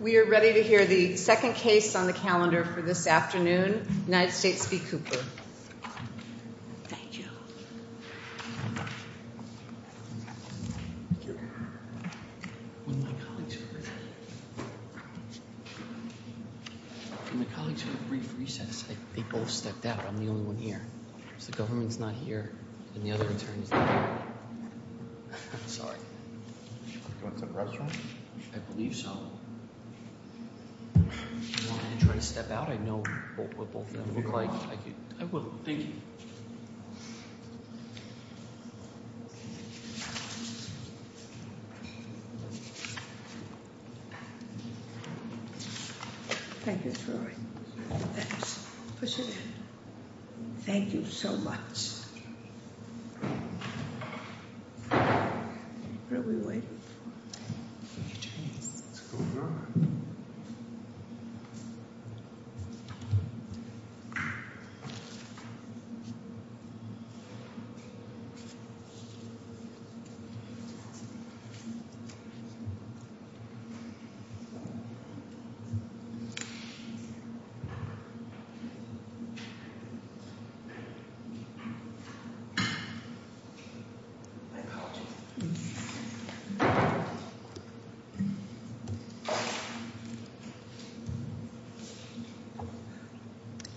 We are ready to hear the second case on the calendar for this afternoon. United States v. Cooper. Do you want me to try to step out? I know what both of them look like. I will. Thank you. Thank you, Troy. Push it in. Thank you so much. What are we waiting for? What's going on? My apologies. Thank you.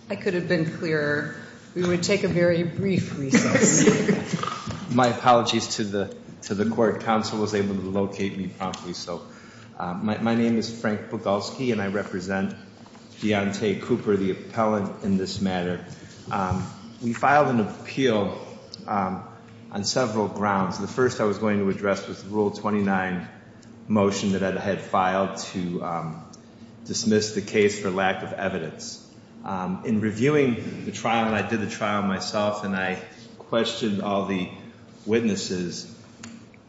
I could have been clearer. We would take a very brief recess. My apologies to the court. Counsel was able to locate me promptly. My name is Frank Bogulski, and I represent Deontay Cooper, the appellant, in this matter. We filed an appeal on several grounds. The first I was going to address was Rule 29 motion that I had filed to dismiss the case for lack of evidence. In reviewing the trial, and I did the trial myself, and I questioned all the witnesses,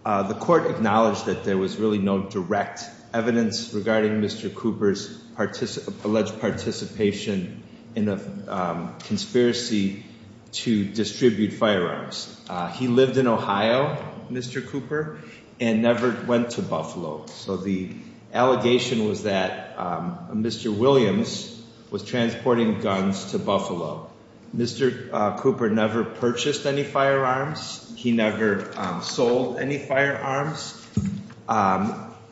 the court acknowledged that there was really no direct evidence regarding Mr. Cooper's alleged participation in a conspiracy to distribute firearms. He lived in Ohio, Mr. Cooper, and never went to Buffalo. So the allegation was that Mr. Williams was transporting guns to Buffalo. Mr. Cooper never purchased any firearms. He never sold any firearms.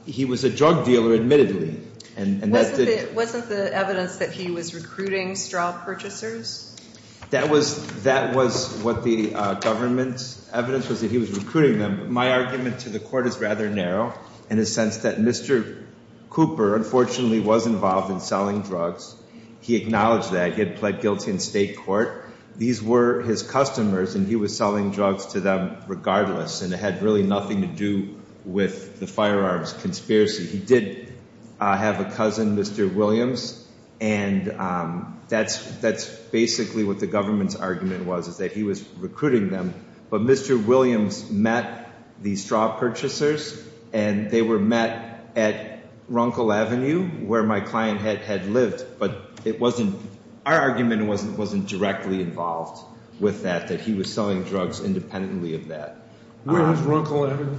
He was a drug dealer, admittedly. Wasn't the evidence that he was recruiting straw purchasers? That was what the government's evidence was that he was recruiting them. My argument to the court is rather narrow in the sense that Mr. Cooper, unfortunately, was involved in selling drugs. He acknowledged that. He had pled guilty in state court. These were his customers, and he was selling drugs to them regardless, and it had really nothing to do with the firearms conspiracy. He did have a cousin, Mr. Williams, and that's basically what the government's argument was, is that he was recruiting them. But Mr. Williams met the straw purchasers, and they were met at Runkle Avenue, where my client had lived. But it wasn't – our argument wasn't directly involved with that, that he was selling drugs independently of that. Where is Runkle Avenue?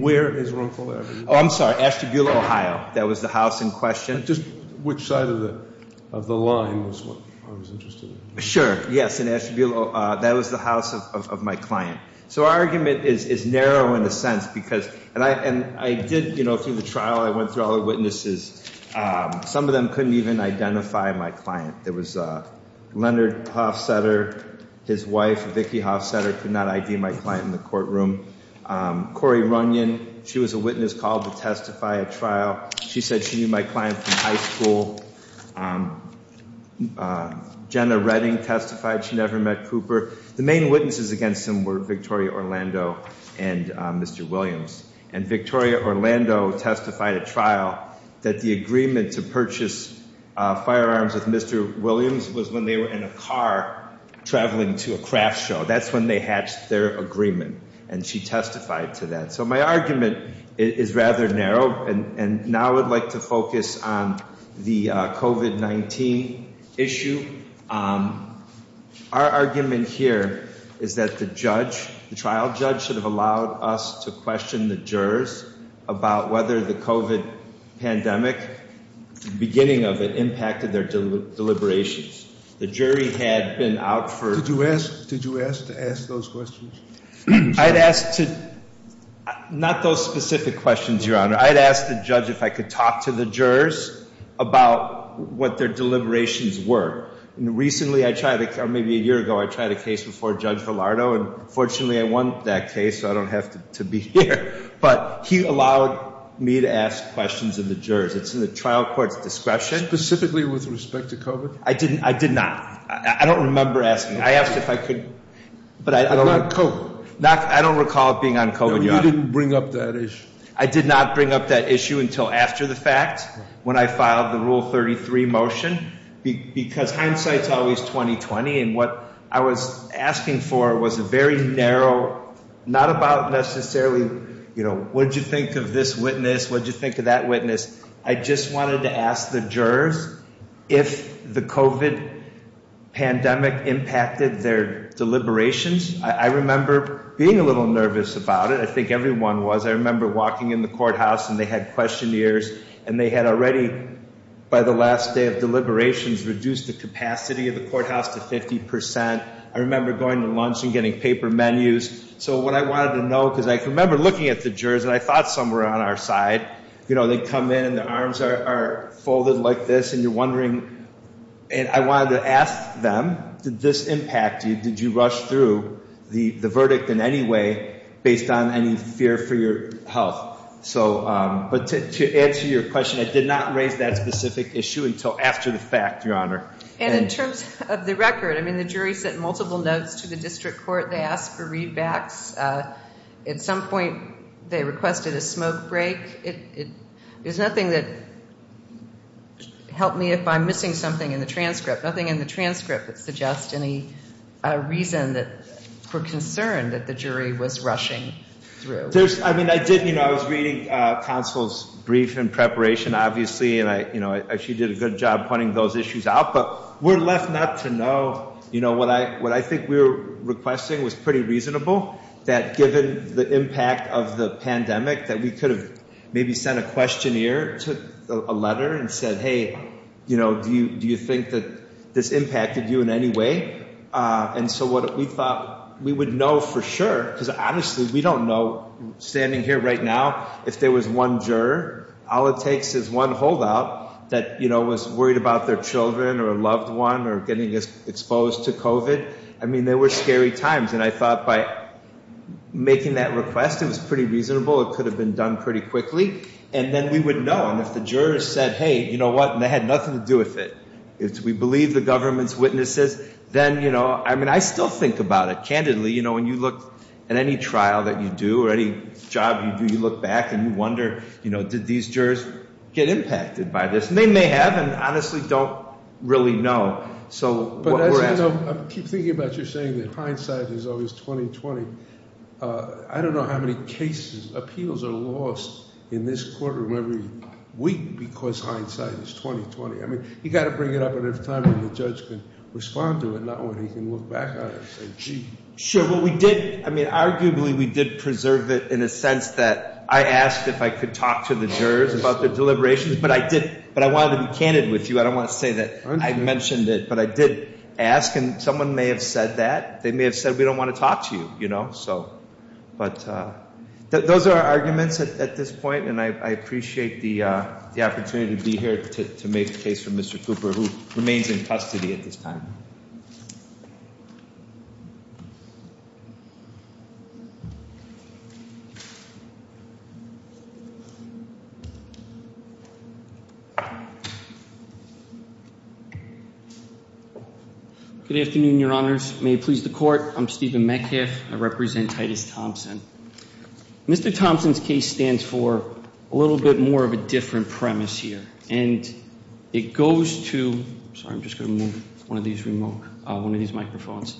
Where is Runkle Avenue? Oh, I'm sorry, Ashtabula, Ohio. That was the house in question. Just which side of the line was what I was interested in. Sure, yes, in Ashtabula. That was the house of my client. So our argument is narrow in a sense because – and I did, you know, through the trial, I went through all the witnesses. Some of them couldn't even identify my client. There was Leonard Hofsetter, his wife, Vicki Hofsetter, could not ID my client in the courtroom. Cori Runyon, she was a witness called to testify at trial. She said she knew my client from high school. Jenna Redding testified she never met Cooper. The main witnesses against him were Victoria Orlando and Mr. Williams. And Victoria Orlando testified at trial that the agreement to purchase firearms with Mr. Williams was when they were in a car traveling to a craft show. That's when they hatched their agreement, and she testified to that. So my argument is rather narrow, and now I would like to focus on the COVID-19 issue. Our argument here is that the judge, the trial judge, should have allowed us to question the jurors about whether the COVID pandemic, the beginning of it, impacted their deliberations. Did you ask to ask those questions? I'd ask to, not those specific questions, Your Honor. I'd ask the judge if I could talk to the jurors about what their deliberations were. And recently I tried, or maybe a year ago, I tried a case before Judge Villardo, and fortunately I won that case, so I don't have to be here. But he allowed me to ask questions of the jurors. It's in the trial court's discretion. Specifically with respect to COVID? I did not. I don't remember asking. I asked if I could- Not COVID. I don't recall it being on COVID, Your Honor. No, you didn't bring up that issue. I did not bring up that issue until after the fact, when I filed the Rule 33 motion. Because hindsight's always 20-20, and what I was asking for was a very narrow, not about necessarily, you know, what did you think of this witness, what did you think of that witness? I just wanted to ask the jurors if the COVID pandemic impacted their deliberations. I remember being a little nervous about it. I think everyone was. I remember walking in the courthouse, and they had questionnaires, and they had already, by the last day of deliberations, reduced the capacity of the courthouse to 50%. I remember going to lunch and getting paper menus. So what I wanted to know, because I remember looking at the jurors, and I thought some were on our side. You know, they come in, and their arms are folded like this, and you're wondering, and I wanted to ask them, did this impact you? Did you rush through the verdict in any way based on any fear for your health? But to answer your question, I did not raise that specific issue until after the fact, Your Honor. And in terms of the record, I mean, the jury sent multiple notes to the district court. They asked for readbacks. At some point, they requested a smoke break. There's nothing that helped me if I'm missing something in the transcript, nothing in the transcript that suggests any reason for concern that the jury was rushing through. But there's, I mean, I did, you know, I was reading counsel's brief in preparation, obviously, and I, you know, she did a good job pointing those issues out. But we're left not to know. You know, what I think we were requesting was pretty reasonable, that given the impact of the pandemic, that we could have maybe sent a questionnaire to a letter and said, hey, you know, do you think that this impacted you in any way? And so what we thought we would know for sure, because honestly, we don't know, standing here right now, if there was one juror, all it takes is one holdout that, you know, was worried about their children or a loved one or getting exposed to COVID. I mean, there were scary times. And I thought by making that request, it was pretty reasonable. It could have been done pretty quickly. And then we would know. And if the jurors said, hey, you know what, and they had nothing to do with it. If we believe the government's witnesses, then, you know, I mean, I still think about it candidly. You know, when you look at any trial that you do or any job you do, you look back and you wonder, you know, did these jurors get impacted by this? And they may have and honestly don't really know. So what we're asking. But as I know, I keep thinking about your saying that hindsight is always 20-20. I don't know how many cases, appeals are lost in this courtroom every week because hindsight is 20-20. I mean, you got to bring it up at a time when the judge can respond to it, not when he can look back on it and say, gee. Sure. Well, we did. I mean, arguably, we did preserve it in a sense that I asked if I could talk to the jurors about the deliberations. But I did. But I wanted to be candid with you. I don't want to say that I mentioned it. But I did ask. And someone may have said that. They may have said we don't want to talk to you, you know. But those are our arguments at this point. And I appreciate the opportunity to be here to make the case for Mr. Cooper, who remains in custody at this time. Good afternoon, your honors. May it please the court. I'm Stephen Metcalf. I represent Titus Thompson. Mr. Thompson's case stands for a little bit more of a different premise here. And it goes to, sorry, I'm just going to move one of these microphones.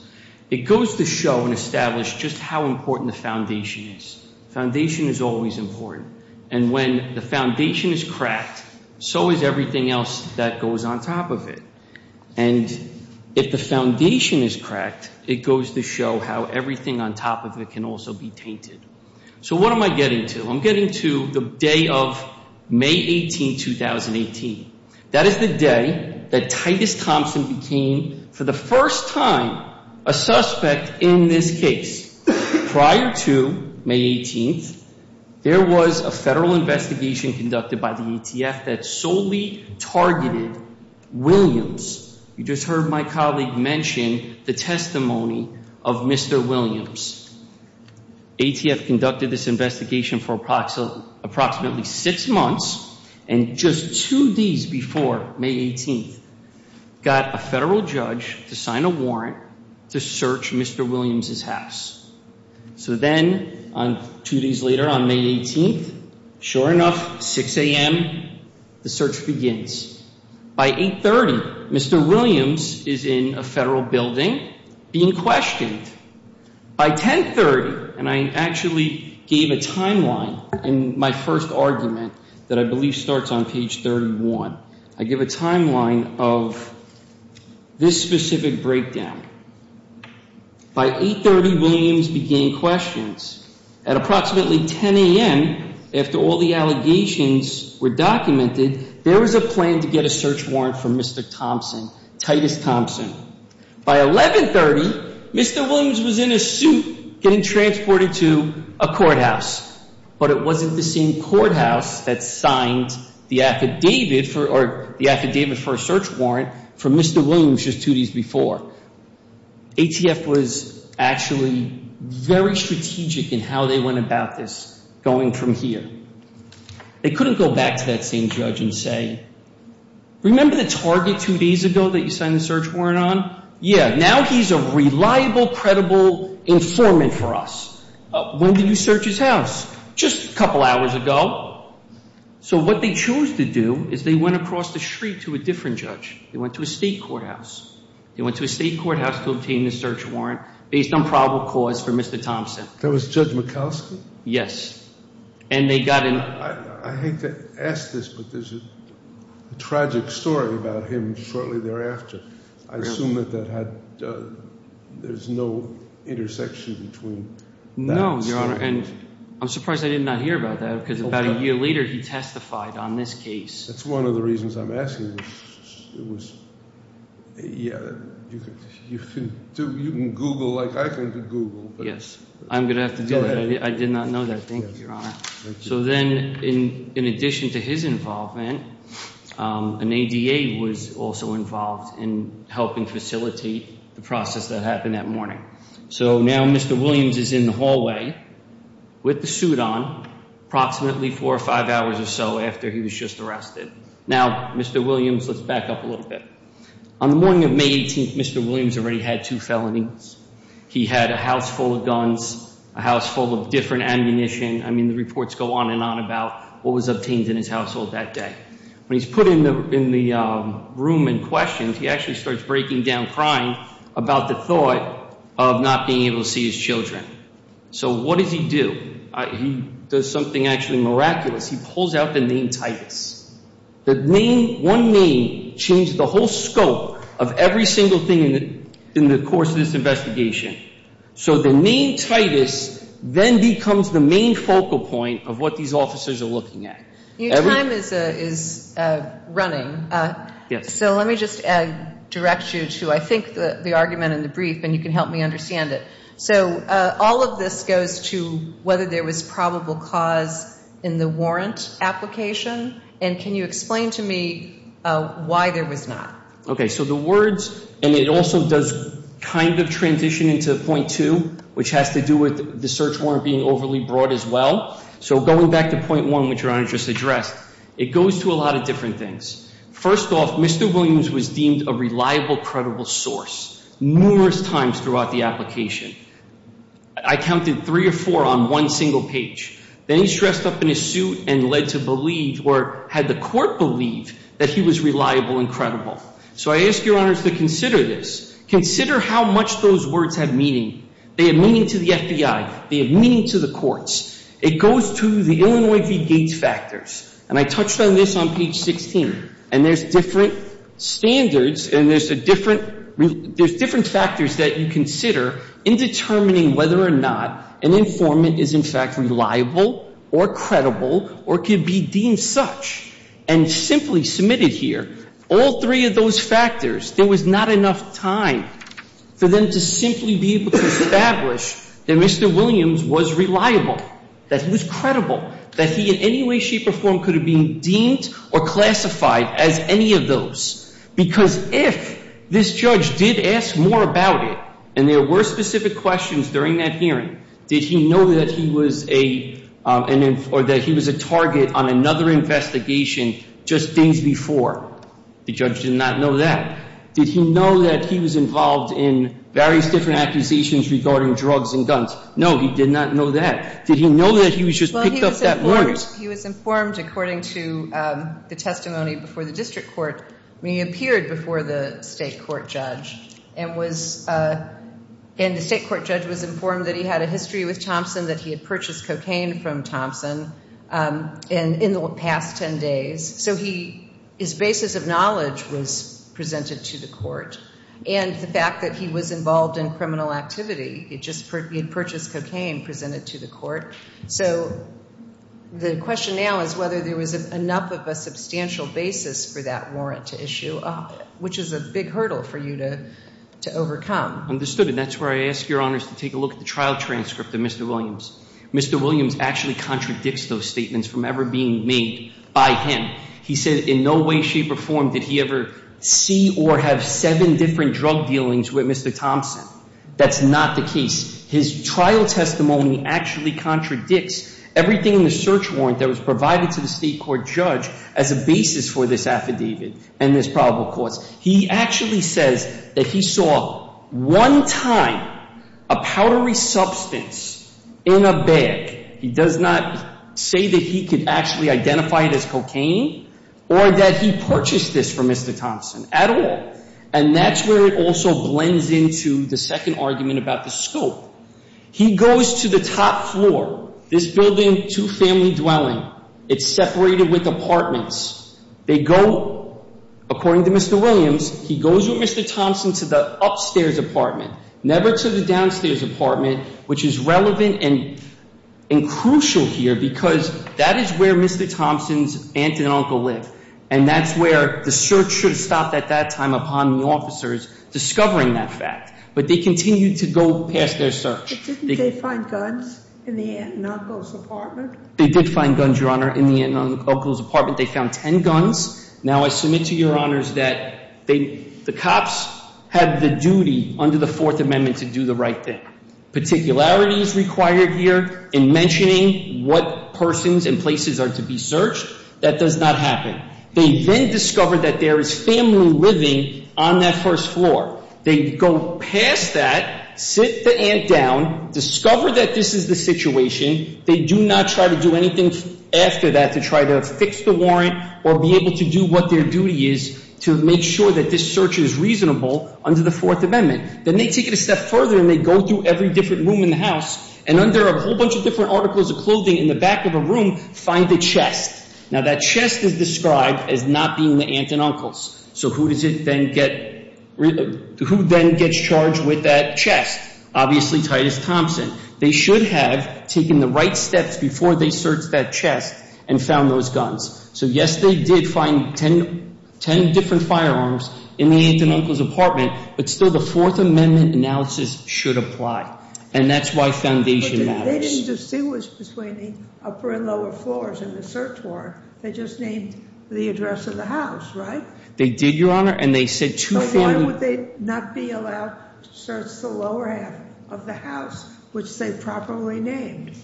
It goes to show and establish just how important the foundation is. Foundation is always important. And when the foundation is cracked, so is everything else that goes on top of it. And if the foundation is cracked, it goes to show how everything on top of it can also be tainted. So what am I getting to? I'm getting to the day of May 18, 2018. That is the day that Titus Thompson became, for the first time, a suspect in this case. Prior to May 18, there was a federal investigation conducted by the ATF that solely targeted Williams. You just heard my colleague mention the testimony of Mr. Williams. ATF conducted this investigation for approximately six months. And just two days before May 18, got a federal judge to sign a warrant to search Mr. Williams' house. So then, two days later, on May 18, sure enough, 6 a.m., the search begins. By 8.30, Mr. Williams is in a federal building being questioned. By 10.30, and I actually gave a timeline in my first argument that I believe starts on page 31, I give a timeline of this specific breakdown. By 8.30, Williams began questions. At approximately 10 a.m., after all the allegations were documented, there was a plan to get a search warrant for Mr. Thompson, Titus Thompson. By 11.30, Mr. Williams was in a suit getting transported to a courthouse. But it wasn't the same courthouse that signed the affidavit for a search warrant for Mr. Williams just two days before. ATF was actually very strategic in how they went about this going from here. They couldn't go back to that same judge and say, Remember the target two days ago that you signed the search warrant on? Yeah, now he's a reliable, credible informant for us. When did you search his house? Just a couple hours ago. So what they choose to do is they went across the street to a different judge. They went to a state courthouse. They went to a state courthouse to obtain the search warrant based on probable cause for Mr. Thompson. That was Judge Mikulski? Yes. And they got in. I hate to ask this, but there's a tragic story about him shortly thereafter. I assume that there's no intersection between that story. No, Your Honor, and I'm surprised I did not hear about that because about a year later he testified on this case. That's one of the reasons I'm asking. It was, yeah, you can Google like I can Google. Yes, I'm going to have to do that. I did not know that. Thank you, Your Honor. So then in addition to his involvement, an ADA was also involved in helping facilitate the process that happened that morning. So now Mr. Williams is in the hallway with the suit on approximately four or five hours or so after he was just arrested. Now, Mr. Williams, let's back up a little bit. On the morning of May 18th, Mr. Williams already had two felonies. He had a house full of guns, a house full of different ammunition. I mean, the reports go on and on about what was obtained in his household that day. When he's put in the room and questioned, he actually starts breaking down crying about the thought of not being able to see his children. So what does he do? He does something actually miraculous. He pulls out the name Titus. The name, one name, changed the whole scope of every single thing in the course of this investigation. So the name Titus then becomes the main focal point of what these officers are looking at. Your time is running. Yes. So let me just direct you to I think the argument in the brief, and you can help me understand it. So all of this goes to whether there was probable cause in the warrant application, and can you explain to me why there was not? Okay, so the words, and it also does kind of transition into point two, which has to do with the search warrant being overly broad as well. So going back to point one, which Your Honor just addressed, it goes to a lot of different things. First off, Mr. Williams was deemed a reliable, credible source numerous times throughout the application. I counted three or four on one single page. Then he dressed up in his suit and led to believe or had the court believe that he was reliable and credible. So I ask Your Honors to consider this. Consider how much those words have meaning. They have meaning to the FBI. They have meaning to the courts. It goes to the Illinois v. Gates factors, and I touched on this on page 16. And there's different standards and there's different factors that you consider in determining whether or not an informant is in fact reliable or credible or could be deemed such. And simply submitted here, all three of those factors, there was not enough time for them to simply be able to establish that Mr. Williams was reliable, that he was credible, that he in any way, shape, or form could have been deemed or classified as any of those. Because if this judge did ask more about it and there were specific questions during that hearing, did he know that he was a target on another investigation just days before? The judge did not know that. Did he know that he was involved in various different accusations regarding drugs and guns? No, he did not know that. Did he know that he was just picked up that warrant? Well, he was informed according to the testimony before the district court when he appeared before the state court judge. And the state court judge was informed that he had a history with Thompson, that he had purchased cocaine from Thompson in the past 10 days. So his basis of knowledge was presented to the court. And the fact that he was involved in criminal activity, he had purchased cocaine presented to the court. So the question now is whether there was enough of a substantial basis for that warrant to issue, which is a big hurdle for you to overcome. Understood. And that's where I ask your honors to take a look at the trial transcript of Mr. Williams. Mr. Williams actually contradicts those statements from ever being made by him. He said in no way, shape, or form did he ever see or have seven different drug dealings with Mr. Thompson. That's not the case. His trial testimony actually contradicts everything in the search warrant that was provided to the state court judge as a basis for this affidavit and this probable cause. He actually says that he saw one time a powdery substance in a bag. He does not say that he could actually identify it as cocaine or that he purchased this from Mr. Thompson at all. And that's where it also blends into the second argument about the scope. He goes to the top floor, this building, two-family dwelling. It's separated with apartments. They go, according to Mr. Williams, he goes with Mr. Thompson to the upstairs apartment. Never to the downstairs apartment, which is relevant and crucial here because that is where Mr. Thompson's aunt and uncle live. And that's where the search should have stopped at that time upon the officers discovering that fact. But they continued to go past their search. But didn't they find guns in the aunt and uncle's apartment? They did find guns, Your Honor, in the aunt and uncle's apartment. They found ten guns. Now, I submit to Your Honors that the cops have the duty under the Fourth Amendment to do the right thing. Particularity is required here in mentioning what persons and places are to be searched. That does not happen. They then discover that there is family living on that first floor. They go past that, sit the aunt down, discover that this is the situation. They do not try to do anything after that to try to fix the warrant or be able to do what their duty is to make sure that this search is reasonable under the Fourth Amendment. Then they take it a step further and they go through every different room in the house. And under a whole bunch of different articles of clothing in the back of a room, find a chest. Now, that chest is described as not being the aunt and uncle's. So who does it then get – who then gets charged with that chest? Obviously, Titus Thompson. They should have taken the right steps before they searched that chest and found those guns. So, yes, they did find ten different firearms in the aunt and uncle's apartment, but still the Fourth Amendment analysis should apply. And that's why foundation matters. But they didn't distinguish between the upper and lower floors in the search warrant. They just named the address of the house, right? They did, Your Honor. So why would they not be allowed to search the lower half of the house, which they properly named?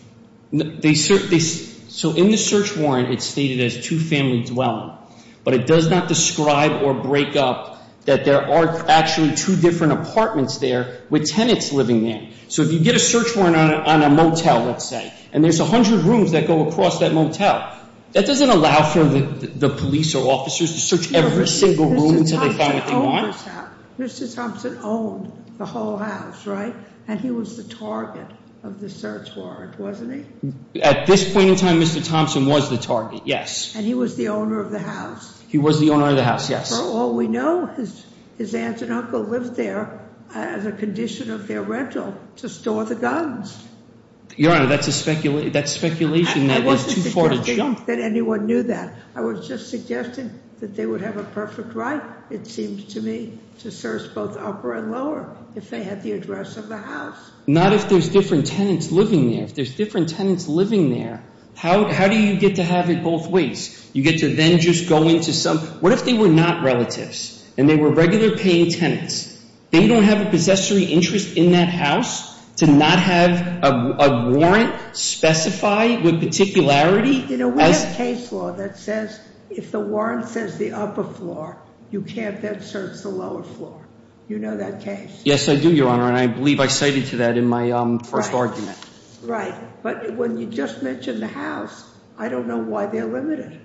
So in the search warrant, it's stated as two-family dwelling. But it does not describe or break up that there are actually two different apartments there with tenants living there. So if you get a search warrant on a motel, let's say, and there's 100 rooms that go across that motel, that doesn't allow for the police or officers to search every single room until they find what they want. Mr. Thompson owned the whole house, right? And he was the target of the search warrant, wasn't he? At this point in time, Mr. Thompson was the target, yes. And he was the owner of the house. He was the owner of the house, yes. For all we know, his aunt and uncle lived there as a condition of their rental to store the guns. Your Honor, that's speculation. I wasn't suggesting that anyone knew that. I was just suggesting that they would have a perfect right, it seems to me, to search both upper and lower if they had the address of the house. Not if there's different tenants living there. If there's different tenants living there, how do you get to have it both ways? You get to then just go into some—what if they were not relatives and they were regular paying tenants? They don't have a possessory interest in that house to not have a warrant specified with particularity? You know, we have case law that says if the warrant says the upper floor, you can't then search the lower floor. You know that case? Yes, I do, Your Honor, and I believe I cited to that in my first argument. Right. But when you just mentioned the house, I don't know why they're limited.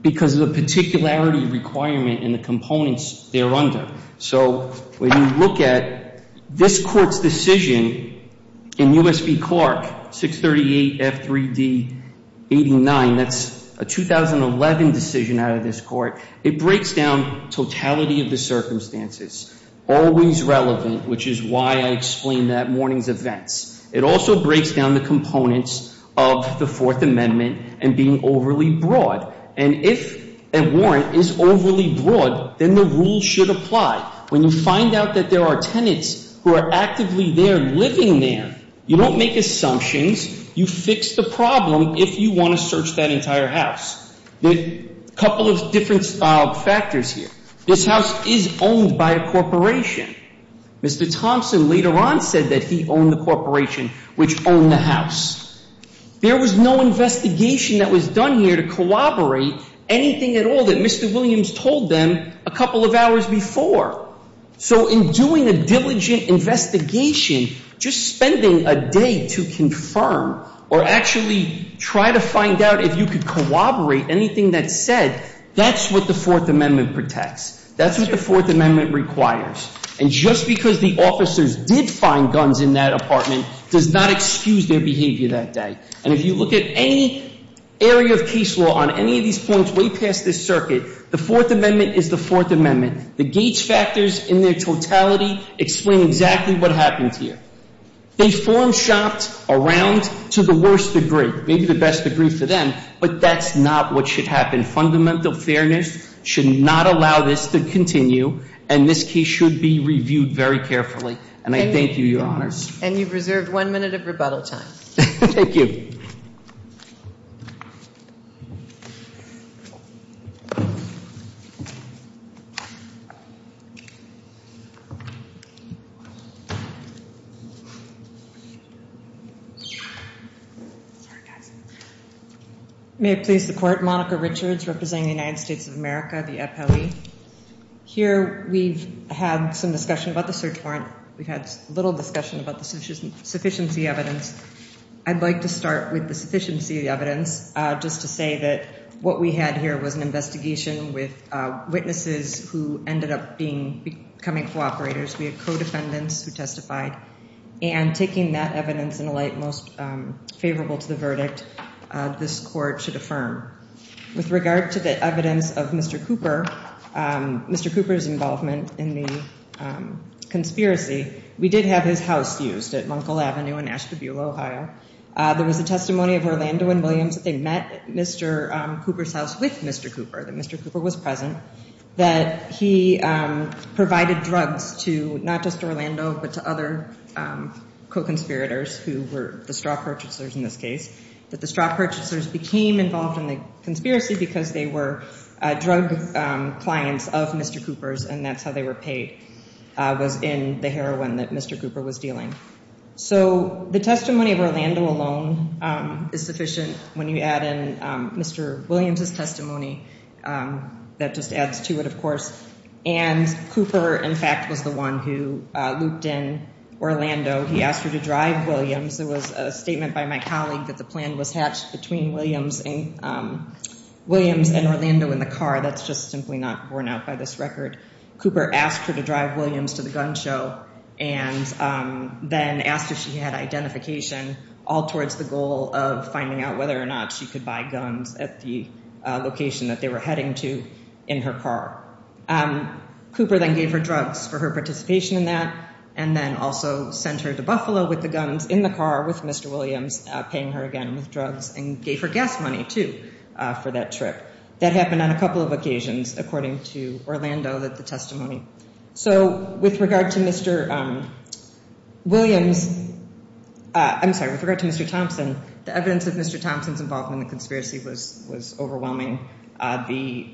Because of the particularity requirement and the components they're under. So when you look at this court's decision in U.S. v. Clark, 638 F3D 89, that's a 2011 decision out of this court. It breaks down totality of the circumstances. Always relevant, which is why I explained that morning's events. It also breaks down the components of the Fourth Amendment and being overly broad. And if a warrant is overly broad, then the rule should apply. When you find out that there are tenants who are actively there living there, you don't make assumptions. You fix the problem if you want to search that entire house. A couple of different factors here. This house is owned by a corporation. Mr. Thompson later on said that he owned the corporation which owned the house. There was no investigation that was done here to corroborate anything at all that Mr. Williams told them a couple of hours before. So in doing a diligent investigation, just spending a day to confirm or actually try to find out if you could corroborate anything that's said, that's what the Fourth Amendment protects. That's what the Fourth Amendment requires. And just because the officers did find guns in that apartment does not excuse their behavior that day. And if you look at any area of case law on any of these points way past this circuit, the Fourth Amendment is the Fourth Amendment. The Gates factors in their totality explain exactly what happened here. They form shopped around to the worst degree, maybe the best degree for them, but that's not what should happen. And fundamental fairness should not allow this to continue. And this case should be reviewed very carefully. And I thank you, Your Honors. And you've reserved one minute of rebuttal time. Thank you. Thank you. May I please support Monica Richards representing the United States of America, the FLE. Here we've had some discussion about the search warrant. We've had little discussion about the sufficiency evidence. I'd like to start with the sufficiency evidence just to say that what we had here was an investigation with witnesses who ended up becoming cooperators. We had co-defendants who testified. And taking that evidence in a light most favorable to the verdict, this court should affirm. With regard to the evidence of Mr. Cooper, Mr. Cooper's involvement in the conspiracy, we did have his house used at Munkle Avenue in Ashtabula, Ohio. There was a testimony of Orlando and Williams that they met Mr. Cooper's house with Mr. Cooper, that Mr. Cooper was present, that he provided drugs to not just Orlando but to other co-conspirators who were the straw purchasers in this case, that the straw purchasers became involved in the conspiracy because they were drug clients of Mr. Cooper's, and that's how they were paid was in the heroin that Mr. Cooper was dealing. So the testimony of Orlando alone is sufficient when you add in Mr. Williams' testimony. That just adds to it, of course. And Cooper, in fact, was the one who looped in Orlando. He asked her to drive Williams. There was a statement by my colleague that the plan was hatched between Williams and Orlando in the car. That's just simply not borne out by this record. Cooper asked her to drive Williams to the gun show and then asked if she had identification, all towards the goal of finding out whether or not she could buy guns at the location that they were heading to in her car. Cooper then gave her drugs for her participation in that and then also sent her to Buffalo with the guns in the car with Mr. Williams, paying her again with drugs and gave her gas money, too, for that trip. That happened on a couple of occasions according to Orlando, the testimony. So with regard to Mr. Williams, I'm sorry, with regard to Mr. Thompson, the evidence of Mr. Thompson's involvement in the conspiracy was overwhelming. The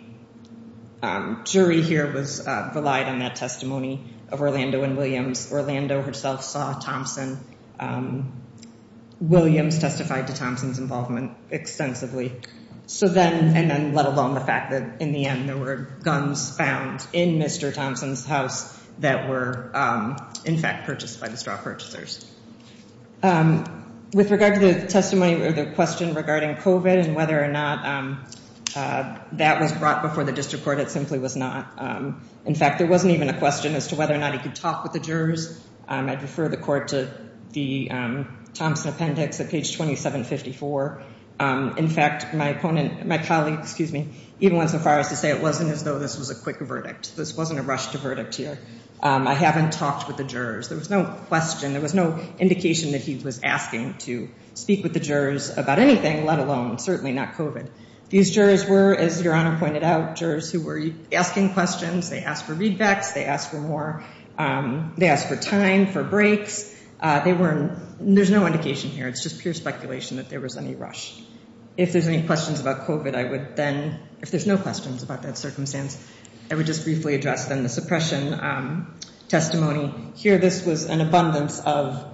jury here was relied on that testimony of Orlando and Williams. Orlando herself saw Thompson. Williams testified to Thompson's involvement extensively. So then and then let alone the fact that in the end there were guns found in Mr. Thompson's house that were, in fact, purchased by the straw purchasers. With regard to the testimony or the question regarding covid and whether or not that was brought before the district court, it simply was not. In fact, there wasn't even a question as to whether or not he could talk with the jurors. I'd refer the court to the Thompson appendix at page 2754. In fact, my opponent, my colleague, excuse me, even went so far as to say it wasn't as though this was a quick verdict. This wasn't a rushed verdict here. I haven't talked with the jurors. There was no question. There was no indication that he was asking to speak with the jurors about anything, let alone certainly not covid. These jurors were, as your honor pointed out, jurors who were asking questions. They asked for readbacks. They asked for more. They asked for time for breaks. They weren't. There's no indication here. It's just pure speculation that there was any rush. If there's any questions about covid, I would then if there's no questions about that circumstance, I would just briefly address then the suppression testimony here. This was an abundance of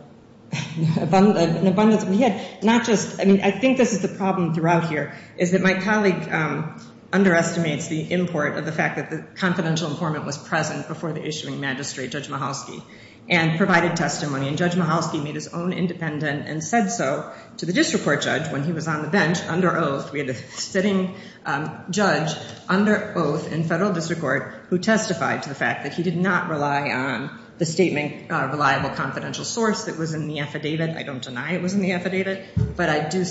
abundance. We had not just I mean, I think this is the problem throughout here is that my colleague underestimates the import of the fact that the confidential informant was present before the issuing magistrate, Judge Mahalsky, and provided testimony. And Judge Mahalsky made his own independent and said so to the district court judge. When he was on the bench under oath, we had a sitting judge under oath in federal district court who testified to the fact that he did not rely on the statement, reliable confidential source that was in the affidavit. I don't deny it was in the affidavit, but I do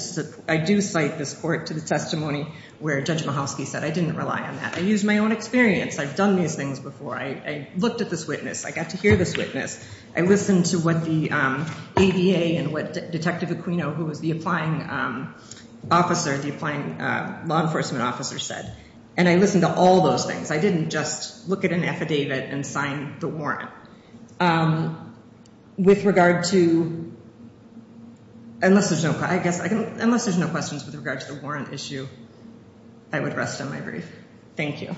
I do cite this court to the testimony where Judge Mahalsky said I didn't rely on that. I used my own experience. I've done these things before. I looked at this witness. I got to hear this witness. I listened to what the ADA and what Detective Aquino, who was the applying officer, the applying law enforcement officer said. And I listened to all those things. I didn't just look at an affidavit and sign the warrant. With regard to. Unless there's no I guess I can unless there's no questions with regard to the warrant issue. I would rest on my brief. Thank you.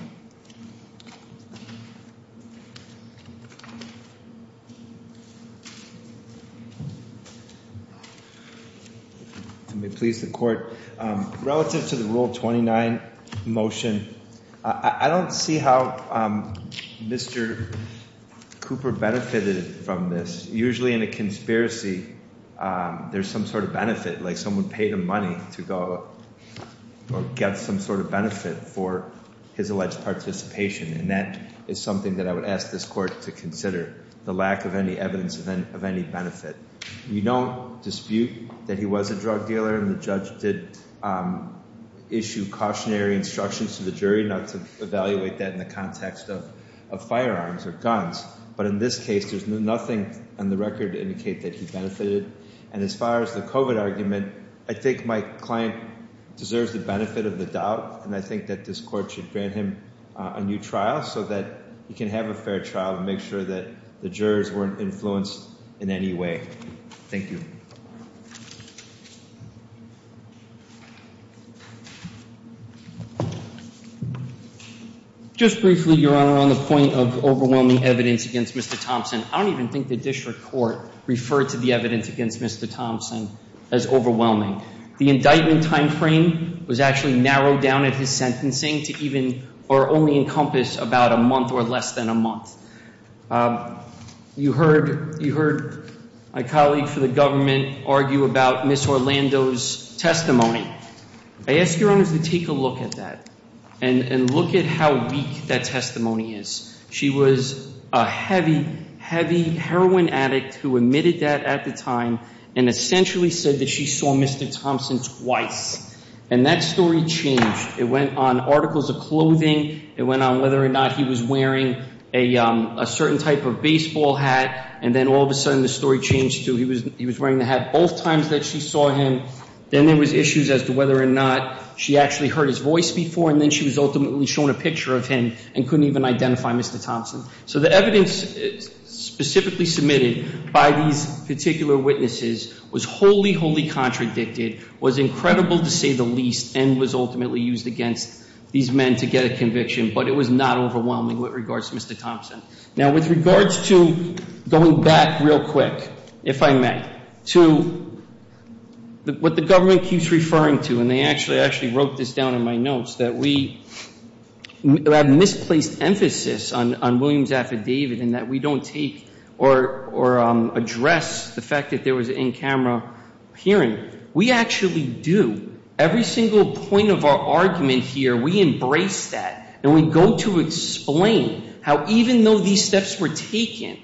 May please the court relative to the rule. Twenty nine motion. I don't see how Mr. Cooper benefited from this, usually in a conspiracy. There's some sort of benefit, like someone paid him money to go get some sort of benefit for his alleged participation. And that is something that I would ask this court to consider the lack of any evidence of any benefit. We don't dispute that he was a drug dealer and the judge did issue cautionary instructions to the jury not to evaluate that in the context of firearms or guns. But in this case, there's nothing on the record to indicate that he benefited. And as far as the COVID argument, I think my client deserves the benefit of the doubt. And I think that this court should grant him a new trial so that he can have a fair trial and make sure that the jurors weren't influenced in any way. Thank you. Just briefly, Your Honor, on the point of overwhelming evidence against Mr. Thompson, I don't even think the district court referred to the evidence against Mr. Thompson as overwhelming. The indictment time frame was actually narrowed down at his sentencing to even or only encompass about a month or less than a month. You heard my colleague for the government argue about Ms. Orlando's testimony. I ask Your Honor to take a look at that and look at how weak that testimony is. She was a heavy, heavy heroin addict who admitted that at the time and essentially said that she saw Mr. Thompson twice. And that story changed. It went on articles of clothing. It went on whether or not he was wearing a certain type of baseball hat. And then all of a sudden the story changed to he was wearing the hat both times that she saw him. Then there was issues as to whether or not she actually heard his voice before. And then she was ultimately shown a picture of him and couldn't even identify Mr. Thompson. So the evidence specifically submitted by these particular witnesses was wholly, wholly contradicted, was incredible to say the least, and was ultimately used against these men to get a conviction. But it was not overwhelming with regards to Mr. Thompson. Now, with regards to going back real quick, if I may, to what the government keeps referring to, and they actually wrote this down in my notes, that we have misplaced emphasis on Williams' affidavit and that we don't take or address the fact that there was in-camera hearing. We actually do. Every single point of our argument here, we embrace that. And we go to explain how even though these steps were taken,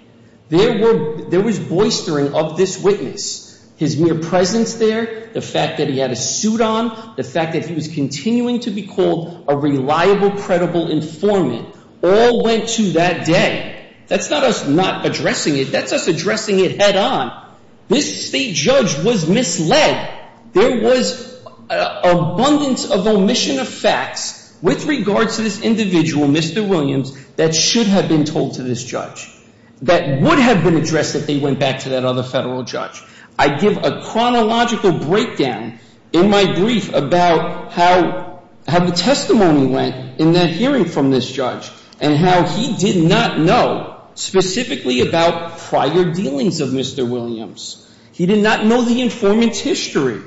there was boistering of this witness. His mere presence there, the fact that he had a suit on, the fact that he was continuing to be called a reliable, credible informant, all went to that day. That's not us not addressing it. That's us addressing it head on. This state judge was misled. There was abundance of omission of facts with regards to this individual, Mr. Williams, that should have been told to this judge, that would have been addressed if they went back to that other federal judge. I give a chronological breakdown in my brief about how the testimony went in that hearing from this judge and how he did not know specifically about prior dealings of Mr. Williams. He did not know the informant's history.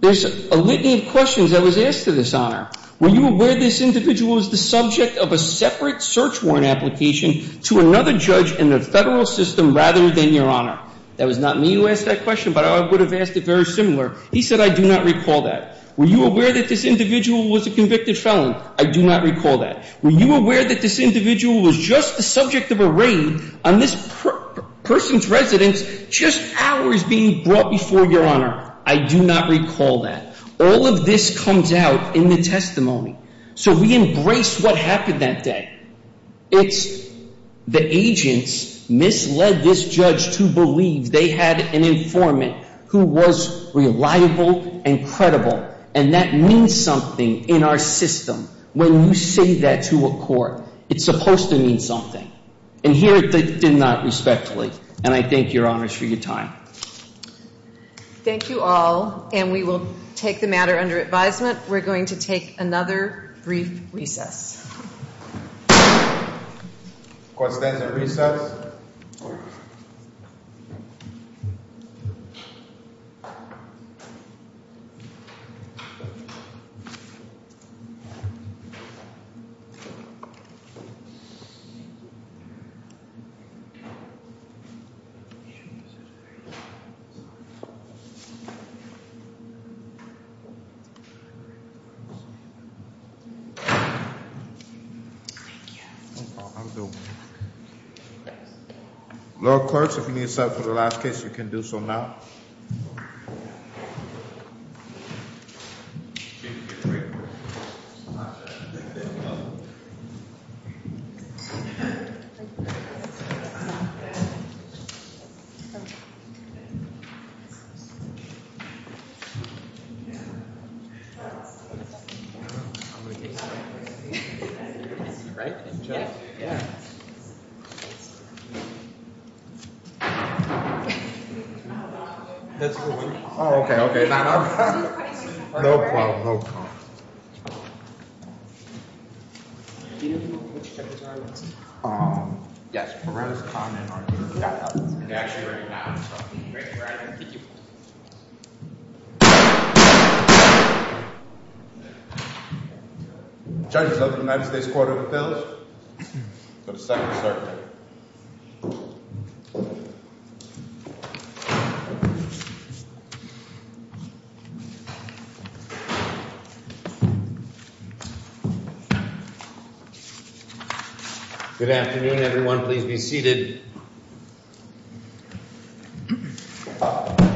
There's a litany of questions that was asked to this honor. Were you aware this individual was the subject of a separate search warrant application to another judge in the federal system rather than your honor? That was not me who asked that question, but I would have asked it very similar. He said, I do not recall that. Were you aware that this individual was a convicted felon? I do not recall that. Were you aware that this individual was just the subject of a raid on this person's residence, just hours being brought before your honor? I do not recall that. All of this comes out in the testimony. So we embrace what happened that day. It's the agents misled this judge to believe they had an informant who was reliable and credible. And that means something in our system when you say that to a court. It's supposed to mean something. And here it did not, respectfully. And I thank your honors for your time. Thank you all. And we will take the matter under advisement. We're going to take another brief recess. Questions and recess? Thank you. Lord clerk, if you need a second for the last case, you can do so now. Right? Yeah. Oh, okay, okay. No problem. Thank you. Do you know who the perpetrators are? Yes. Perez, Conant are here. They're actually right now. So I'll be right there. Thank you. Judges of the United States Court of Appeals, for the second circuit. Good afternoon, everyone.